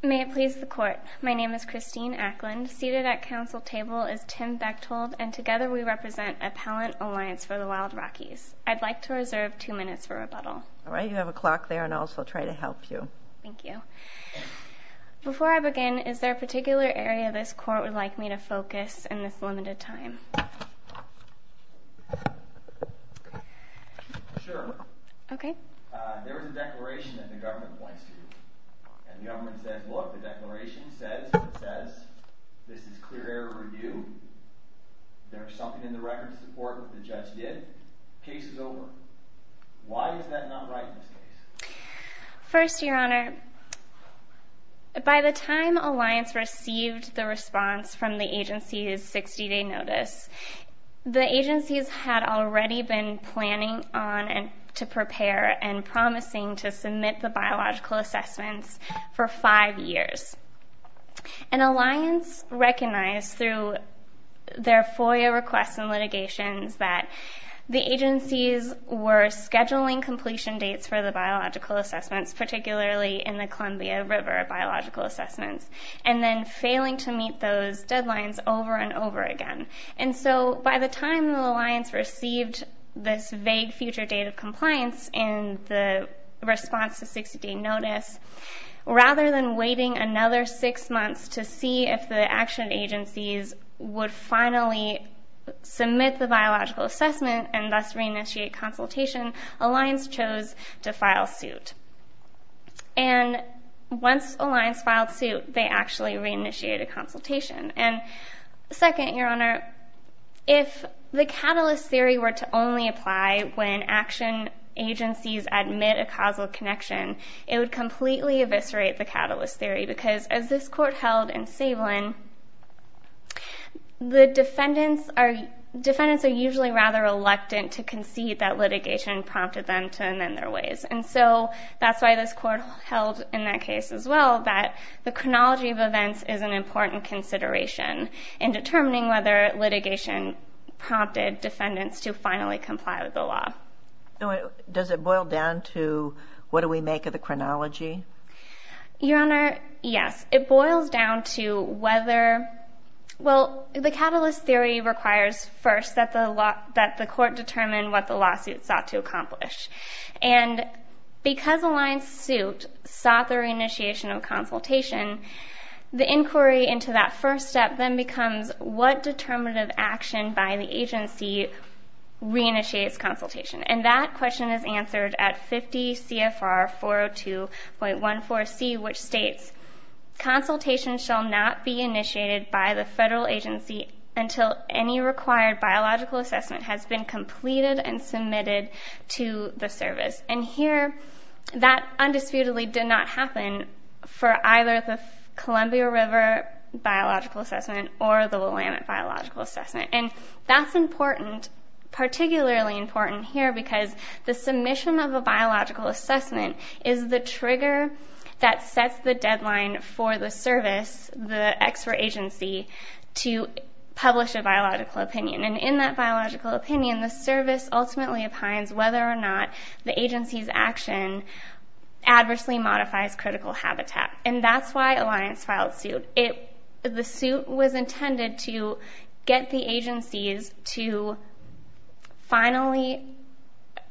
May it please the court, my name is Christine Ackland, seated at council table is Tim Bechtold, and together we represent Appellant Alliance for the Wild Rockies. I'd like to reserve two minutes for rebuttal. Alright, you have a clock there and I'll also try to help you. Thank you. Before I begin, is there a particular area this court would like me to focus in this limited time? Sure. There was a declaration that the government points to, and the government says, look, the declaration says, this is clear error review, there is something in the record to support what the judge did, case is over. Why is that not right in this case? First, your honor, by the time Alliance received the response from the agency's 60 day notice, the agencies had already been planning on and to prepare and promising to submit the biological assessments for five years. An alliance recognized through their FOIA requests and litigations that the agencies were scheduling completion dates for the biological assessments, particularly in the Columbia River biological assessments, and then failing to meet those deadlines over and over again. By the time the alliance received this vague future date of compliance in the response to 60 day notice, rather than waiting another six months to see if the action agencies would finally submit the biological assessment and thus re-initiate consultation, Alliance chose to file suit. And once Alliance filed suit, they actually re-initiated consultation. Second, your honor, if the catalyst theory were to only apply when action agencies admit a causal connection, it would completely eviscerate the catalyst theory, because as this court held in Savlin, the defendants are usually rather reluctant to concede that litigation prompted them to amend their ways. And so that's why this court held in that case as well that the chronology of events is an important consideration in determining whether litigation prompted defendants to finally comply with the law. Does it boil down to what do we make of the chronology? Your honor, yes. It boils down to whether, well, the catalyst theory requires first that the court determine what the lawsuit sought to accomplish. And because Alliance sued, sought the re-initiation of consultation, the inquiry into that first step then becomes what determinative action by the agency re-initiates consultation. And that question is answered at 50 CFR 402.14C, which states, Consultation shall not be initiated by the federal agency until any required biological assessment has been completed and submitted to the service. And here, that undisputedly did not happen for either the Columbia River Biological Assessment or the Willamette Biological Assessment. And that's important, particularly important here because the submission of a biological assessment is the trigger that sets the deadline for the service, the expert agency, to publish a biological opinion. And in that biological opinion, the service ultimately opines whether or not the agency's action adversely modifies critical habitat. And that's why Alliance filed suit. The suit was intended to get the agencies to finally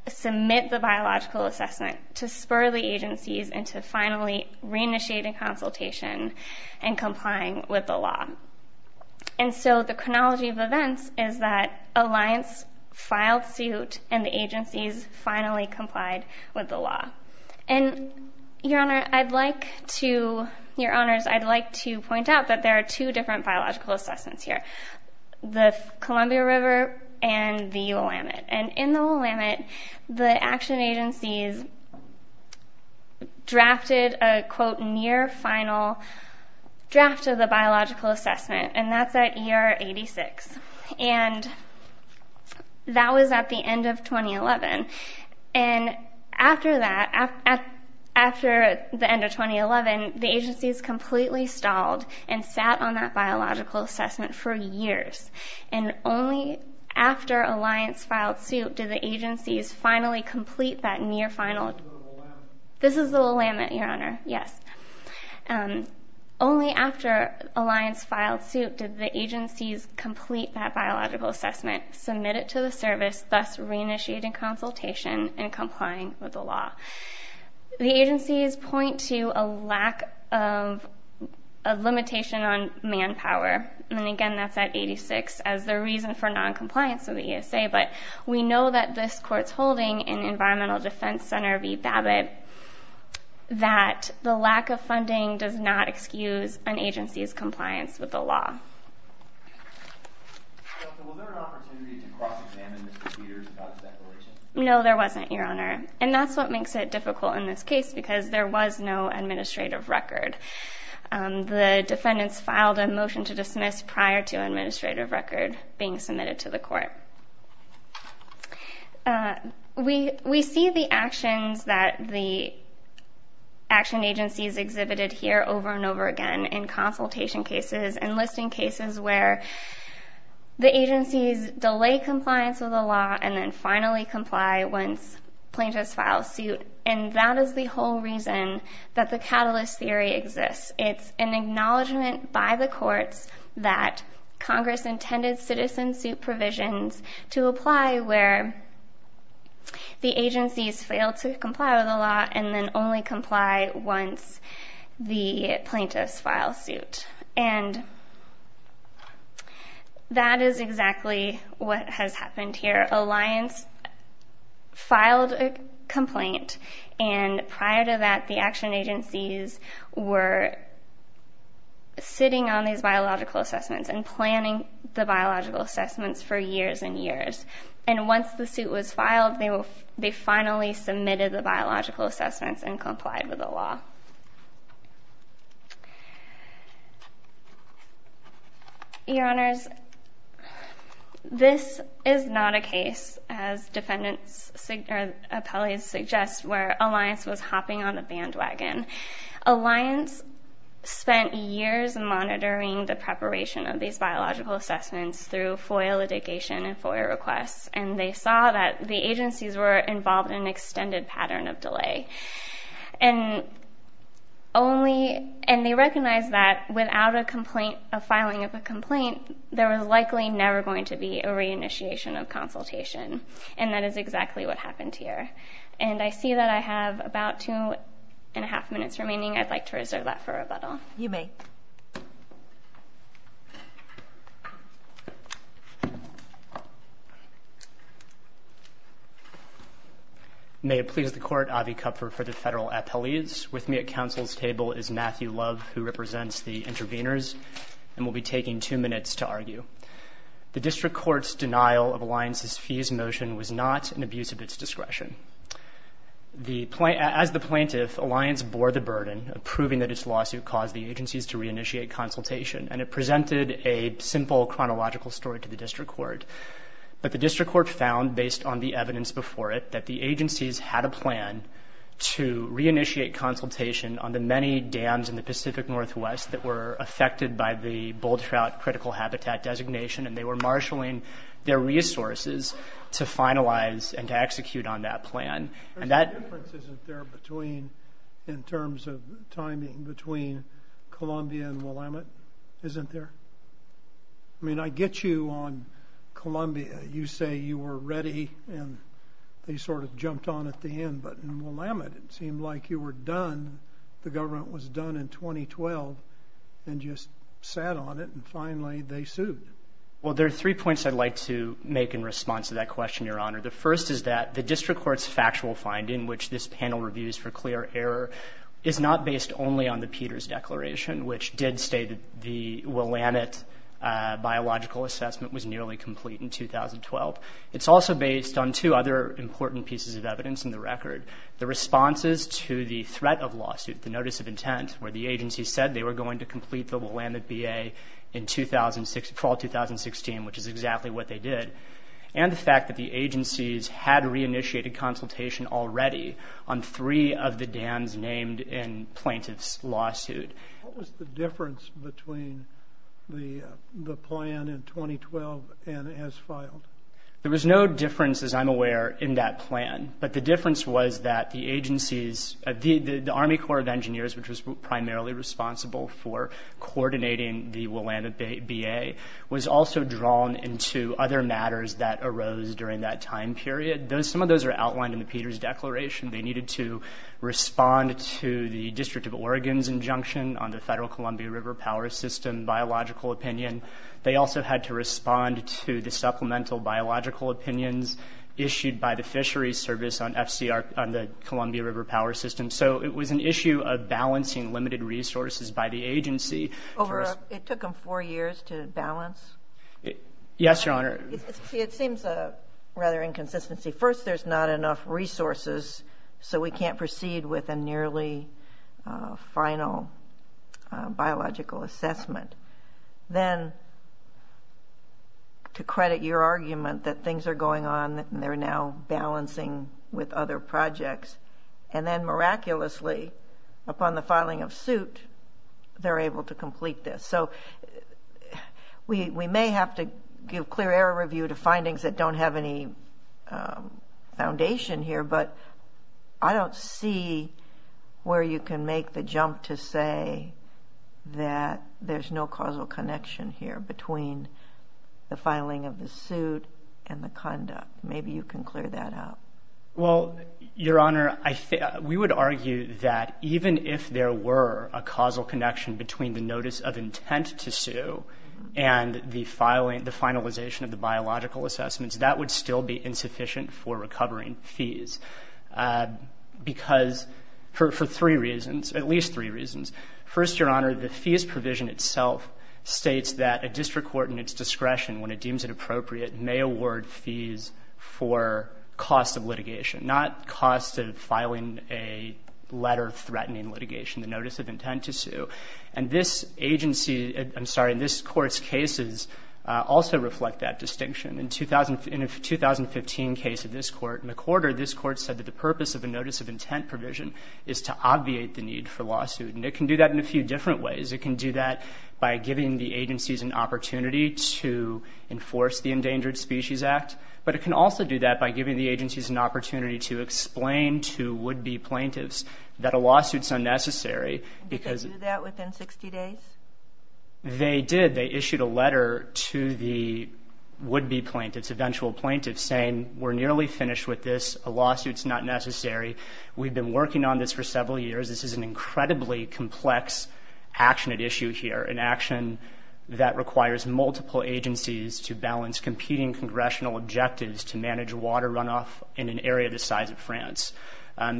submit the biological assessment to spur the agencies into finally re-initiating consultation and complying with the law. And so the chronology of events is that Alliance filed suit and the agencies finally complied with the law. And, Your Honor, I'd like to, Your Honors, I'd like to point out that there are two different biological assessments here, the Columbia River and the Willamette. And in the Willamette, the action agencies drafted a, quote, near final draft of the biological assessment. And that's at year 86. And that was at the end of 2011. And after that, after the end of 2011, the agencies completely stalled and sat on that biological assessment for years. And only after Alliance filed suit did the agencies finally complete that near final. This is the Willamette, Your Honor. Yes. Only after Alliance filed suit did the agencies complete that biological assessment, submit it to the service, thus re-initiating consultation and complying with the law. The agencies point to a lack of, a limitation on manpower. And, again, that's at 86 as the reason for noncompliance of the ESA. But we know that this court's holding in Environmental Defense Center v. Babbitt that the lack of funding does not excuse an agency's compliance with the law. No, there wasn't, Your Honor. And that's what makes it difficult in this case because there was no administrative record. The defendants filed a motion to dismiss prior to an administrative record being submitted to the court. We see the actions that the action agencies exhibited here over and over again in consultation cases and listing cases where the agencies delay compliance with the law and then finally comply once plaintiffs file suit. And that is the whole reason that the catalyst theory exists. It's an acknowledgment by the courts that Congress intended citizen suit provisions to apply where the agencies fail to comply with the law and then only comply once the plaintiffs file suit. And that is exactly what has happened here. Alliance filed a complaint, and prior to that, the action agencies were sitting on these biological assessments and planning the biological assessments for years and years. And once the suit was filed, they finally submitted the biological assessments and complied with the law. Your Honors, this is not a case, as defendants or appellees suggest, where Alliance was hopping on a bandwagon. Alliance spent years monitoring the preparation of these biological assessments through FOIA litigation and FOIA requests, and they saw that the agencies were involved in an extended pattern of delay. And they recognized that without a filing of a complaint, there was likely never going to be a reinitiation of consultation. And that is exactly what happened here. And I see that I have about two and a half minutes remaining. I'd like to reserve that for rebuttal. You may. Thank you. May it please the Court, Avi Kupfer for the federal appellees. With me at counsel's table is Matthew Love, who represents the interveners, and will be taking two minutes to argue. The district court's denial of Alliance's fees motion was not an abuse of its discretion. As the plaintiff, Alliance bore the burden of proving that its lawsuit caused the agencies to reinitiate consultation, and it presented a simple chronological story to the district court. But the district court found, based on the evidence before it, that the agencies had a plan to reinitiate consultation on the many dams in the Pacific Northwest that were affected by the bull trout critical habitat designation, and they were marshaling their resources to finalize and to execute on that plan. There's a difference, isn't there, in terms of timing between Columbia and Willamette, isn't there? I mean, I get you on Columbia. You say you were ready, and they sort of jumped on at the end. But in Willamette, it seemed like you were done. The government was done in 2012 and just sat on it, and finally they sued. Well, there are three points I'd like to make in response to that question, Your Honor. The first is that the district court's factual finding, which this panel reviews for clear error, is not based only on the Peters Declaration, which did state that the Willamette biological assessment was nearly complete in 2012. It's also based on two other important pieces of evidence in the record. The responses to the threat of lawsuit, the notice of intent, where the agency said they were going to complete the Willamette BA in fall 2016, which is exactly what they did, and the fact that the agencies had reinitiated consultation already on three of the dams named in plaintiff's lawsuit. What was the difference between the plan in 2012 and as filed? There was no difference, as I'm aware, in that plan. But the difference was that the Army Corps of Engineers, which was primarily responsible for coordinating the Willamette BA, was also drawn into other matters that arose during that time period. Some of those are outlined in the Peters Declaration. They needed to respond to the District of Oregon's injunction on the Federal Columbia River Power System biological opinion. They also had to respond to the supplemental biological opinions issued by the fisheries service on the Columbia River Power System. So it was an issue of balancing limited resources by the agency. It took them four years to balance? Yes, Your Honor. It seems a rather inconsistency. First, there's not enough resources, so we can't proceed with a nearly final biological assessment. Then, to credit your argument that things are going on and they're now balancing with other projects, and then miraculously, upon the filing of suit, they're able to complete this. So we may have to give clear error review to findings that don't have any foundation here, but I don't see where you can make the jump to say that there's no causal connection here between the filing of the suit and the conduct. Maybe you can clear that out. Well, Your Honor, we would argue that even if there were a causal connection between the notice of intent to sue and the finalization of the biological assessments, that would still be insufficient for recovering fees, because for three reasons, at least three reasons. First, Your Honor, the fees provision itself states that a district court in its discretion, when it deems it appropriate, may award fees for cost of litigation, not cost of filing a letter threatening litigation, the notice of intent to sue. And this agency, I'm sorry, this Court's cases also reflect that distinction. In a 2015 case of this Court in the quarter, this Court said that the purpose of a notice of intent provision is to obviate the need for lawsuit. And it can do that in a few different ways. It can do that by giving the agencies an opportunity to enforce the Endangered Species Act, but it can also do that by giving the agencies an opportunity to explain to would-be plaintiffs that a lawsuit is unnecessary because they issued a letter to the would-be plaintiffs, eventual plaintiffs, saying, we're nearly finished with this, a lawsuit's not necessary, we've been working on this for several years, this is an incredibly complex action at issue here, an action that requires multiple agencies to balance competing congressional objectives to manage water runoff in an area the size of France.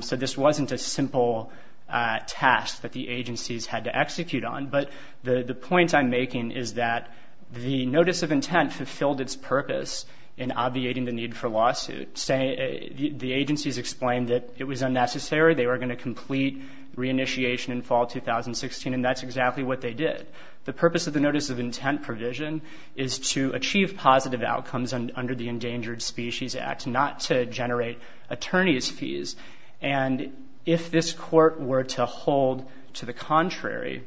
So this wasn't a simple task that the agencies had to execute on, but the point I'm making is that the notice of intent fulfilled its purpose in obviating the need for lawsuit. The agencies explained that it was unnecessary, they were going to complete reinitiation in fall 2016, and that's exactly what they did. The purpose of the notice of intent provision is to achieve positive outcomes under the Endangered Species Act, not to generate attorney's fees. And if this court were to hold to the contrary,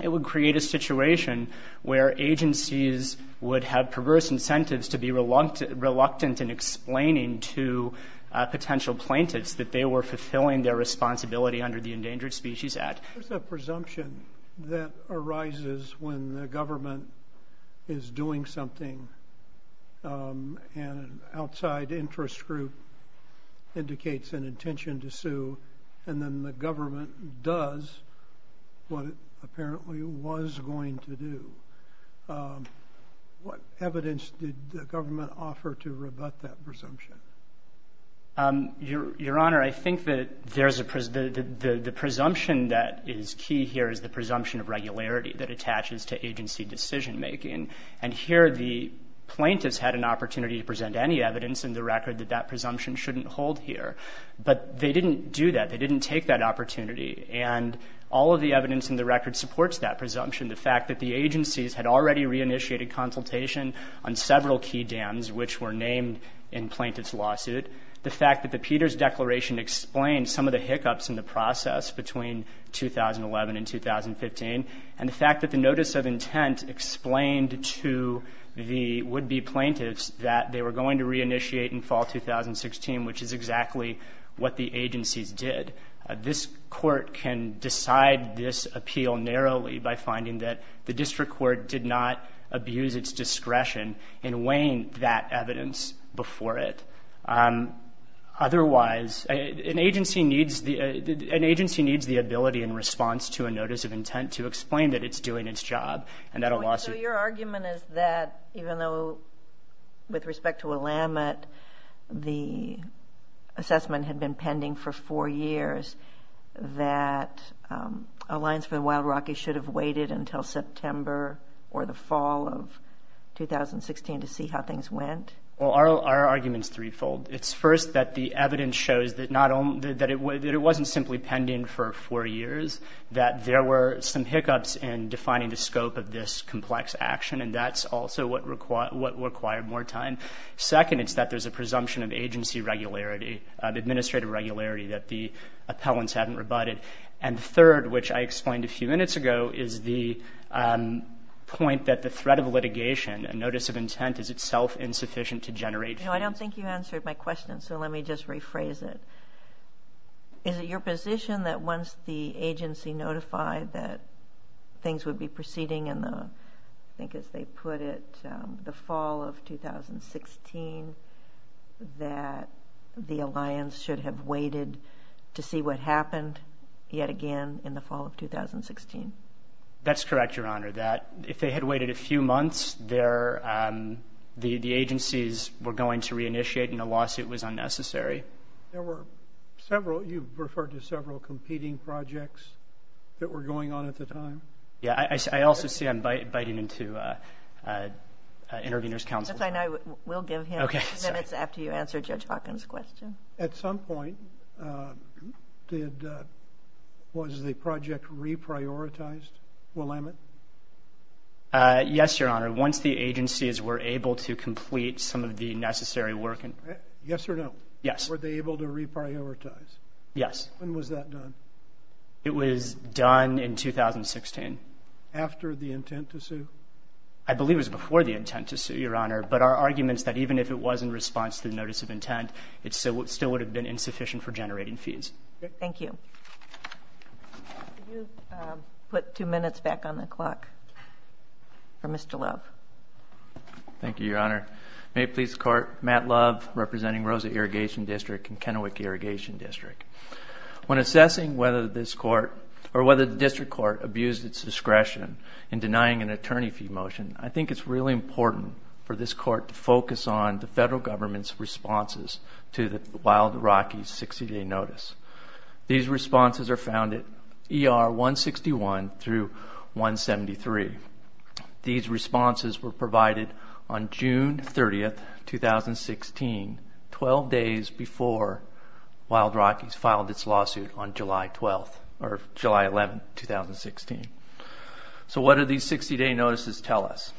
it would create a situation where agencies would have perverse incentives to be reluctant in explaining to potential plaintiffs that they were fulfilling their responsibility under the Endangered Species Act. There's a presumption that arises when the government is doing something and an outside interest group indicates an intention to sue, and then the government does what it apparently was going to do. What evidence did the government offer to rebut that presumption? Your Honor, I think that the presumption that is key here is the presumption of regularity that attaches to agency decision-making. And here the plaintiffs had an opportunity to present any evidence in the record that that presumption shouldn't hold here. But they didn't do that. They didn't take that opportunity. And all of the evidence in the record supports that presumption, the fact that the agencies had already reinitiated consultation on several key dams, which were named in plaintiff's lawsuit, the fact that the Peters Declaration explained some of the hiccups in the process between 2011 and 2015, and the fact that the notice of intent explained to the would-be plaintiffs that they were going to reinitiate in fall 2016, which is exactly what the agencies did. This court can decide this appeal narrowly by finding that the district court did not abuse its discretion in weighing that evidence before it. Otherwise, an agency needs the ability in response to a notice of intent to explain that it's doing its job. So your argument is that even though, with respect to Willamette, the assessment had been pending for four years, that Alliance for the Wild Rockies should have waited until September or the fall of 2016 to see how things went? Well, our argument is threefold. It's first that the evidence shows that it wasn't simply pending for four years, that there were some hiccups in defining the scope of this complex action, and that's also what required more time. Second, it's that there's a presumption of agency regularity, administrative regularity, that the appellants hadn't rebutted. And third, which I explained a few minutes ago, is the point that the threat of litigation, a notice of intent, is itself insufficient to generate. I don't think you answered my question, so let me just rephrase it. Is it your position that once the agency notified that things would be proceeding in the, I think as they put it, the fall of 2016, that the Alliance should have waited to see what happened yet again in the fall of 2016? That's correct, Your Honor, that if they had waited a few months, the agencies were going to reinitiate and a lawsuit was unnecessary. There were several, you referred to several, competing projects that were going on at the time? Yeah, I also see I'm biting into intervener's counsel. We'll give him minutes after you answer Judge Hawkins' question. At some point, was the project reprioritized? Willamette? Yes, Your Honor, once the agencies were able to complete some of the necessary work. Yes or no? Yes. Were they able to reprioritize? Yes. When was that done? It was done in 2016. After the intent to sue? I believe it was before the intent to sue, Your Honor, but our argument is that even if it was in response to the notice of intent, it still would have been insufficient for generating fees. Thank you. Could you put two minutes back on the clock for Mr. Love? Thank you, Your Honor. May it please the Court, Matt Love representing Rosa Irrigation District and Kennewick Irrigation District. When assessing whether this court or whether the district court abused its discretion in denying an attorney fee motion, I think it's really important for this court to focus on the federal government's responses to the Wild Rocky 60-day notice. These responses are found at ER 161 through 173. These responses were provided on June 30, 2016, 12 days before Wild Rockies filed its lawsuit on July 11, 2016. So what do these 60-day notices tell us?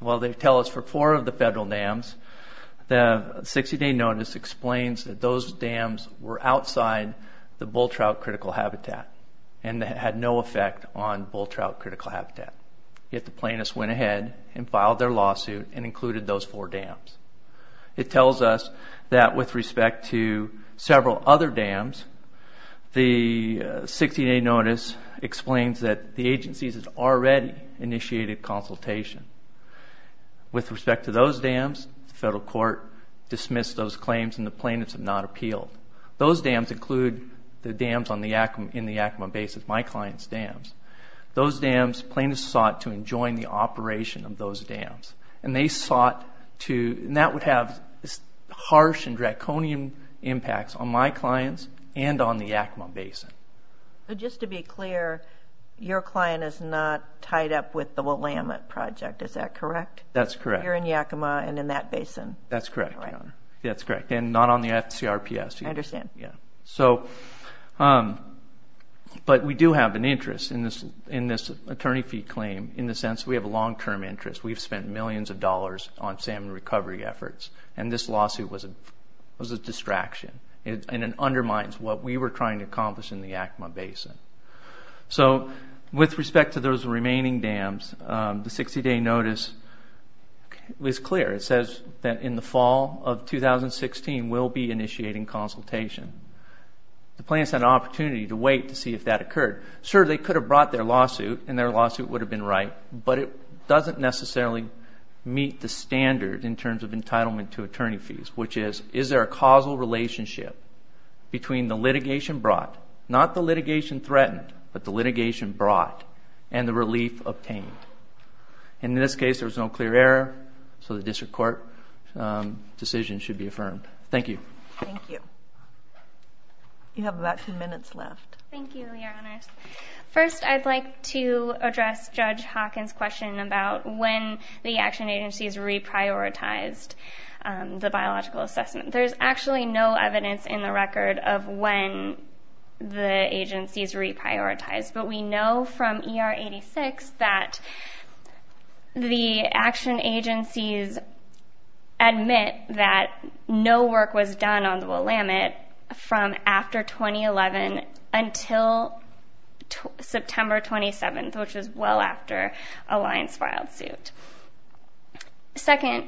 Well, they tell us for four of the federal dams, the 60-day notice explains that those dams were outside the bull trout critical habitat and had no effect on bull trout critical habitat. Yet the plaintiffs went ahead and filed their lawsuit and included those four dams. It tells us that with respect to several other dams, the 60-day notice explains that the agencies had already initiated consultation. With respect to those dams, the federal court dismissed those claims and the plaintiffs have not appealed. Those dams include the dams in the Yakima Basin, my client's dams. Those dams, plaintiffs sought to enjoin the operation of those dams. And they sought to, and that would have harsh and draconian impacts on my clients and on the Yakima Basin. So just to be clear, your client is not tied up with the Willamette Project, is that correct? That's correct. You're in Yakima and in that basin? That's correct, Your Honor. That's correct, and not on the FCRPS either. I understand. But we do have an interest in this attorney fee claim in the sense that we have a long-term interest. We've spent millions of dollars on salmon recovery efforts and this lawsuit was a distraction and it undermines what we were trying to accomplish in the Yakima Basin. So with respect to those remaining dams, the 60-day notice is clear. It says that in the fall of 2016, we'll be initiating consultation. The plaintiffs had an opportunity to wait to see if that occurred. Sure, they could have brought their lawsuit and their lawsuit would have been right, but it doesn't necessarily meet the standard in terms of entitlement to attorney fees, which is, is there a causal relationship between the litigation brought, not the litigation threatened, but the litigation brought, and the relief obtained? In this case, there was no clear error, so the district court decision should be affirmed. Thank you. Thank you. You have about two minutes left. Thank you, Your Honors. First, I'd like to address Judge Hawkins' question about when the action agencies reprioritized the biological assessment. There's actually no evidence in the record of when the agencies reprioritized, but we know from ER 86 that the action agencies admit that no work was done on the Willamette from after 2011 until September 27th, which is well after Alliance filed suit. Second,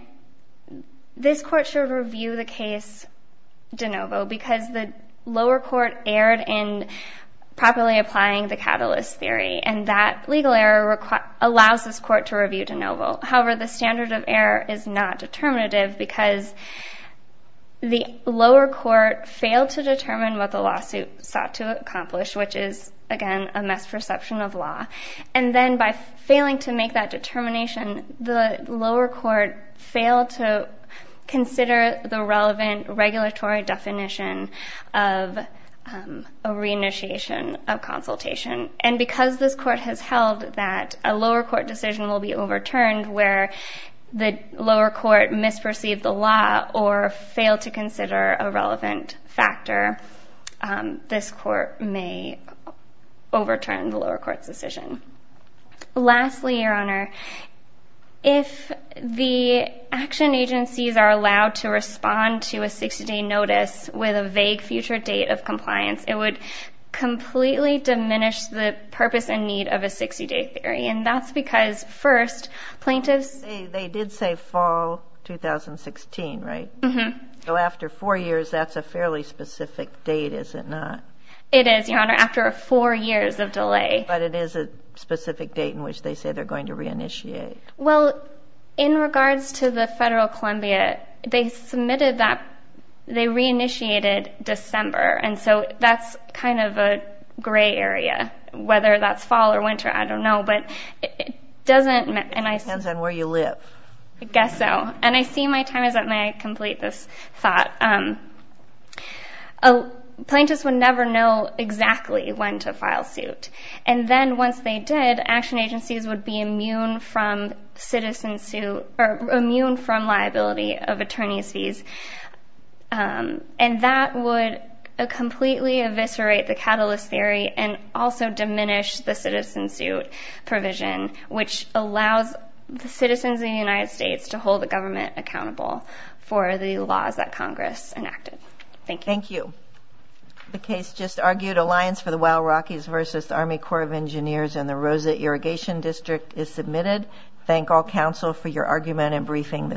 this Court should review the case de novo because the lower court erred in properly applying the catalyst theory, and that legal error allows this Court to review de novo. However, the standard of error is not determinative because the lower court failed to determine what the lawsuit sought to accomplish, which is, again, a misperception of law. And then by failing to make that determination, the lower court failed to consider the relevant regulatory definition of a reinitiation of consultation. And because this Court has held that a lower court decision will be overturned where the lower court misperceived the law or failed to consider a relevant factor, this Court may overturn the lower court's decision. Lastly, Your Honor, if the action agencies are allowed to respond to a 60-day notice with a vague future date of compliance, it would completely diminish the purpose and need of a 60-day theory, and that's because, first, plaintiffs... They did say fall 2016, right? Mm-hmm. So after four years, that's a fairly specific date, is it not? It is, Your Honor, after four years of delay. But it is a specific date in which they say they're going to reinitiate. Well, in regards to the federal Columbia, they submitted that they reinitiated December, and so that's kind of a gray area. Whether that's fall or winter, I don't know, but it doesn't... Depends on where you live. I guess so. And I see my time is up, and I complete this thought. Plaintiffs would never know exactly when to file suit, and then once they did, action agencies would be immune from citizen suit or immune from liability of attorney's fees, and that would completely eviscerate the catalyst theory and also diminish the citizen suit provision, which allows the citizens of the United States to hold the government accountable for the laws that Congress enacted. Thank you. Thank you. The case just argued, Alliance for the Wild Rockies v. Army Corps of Engineers and the Rosa Irrigation District, is submitted. Thank all counsel for your argument and briefing this afternoon.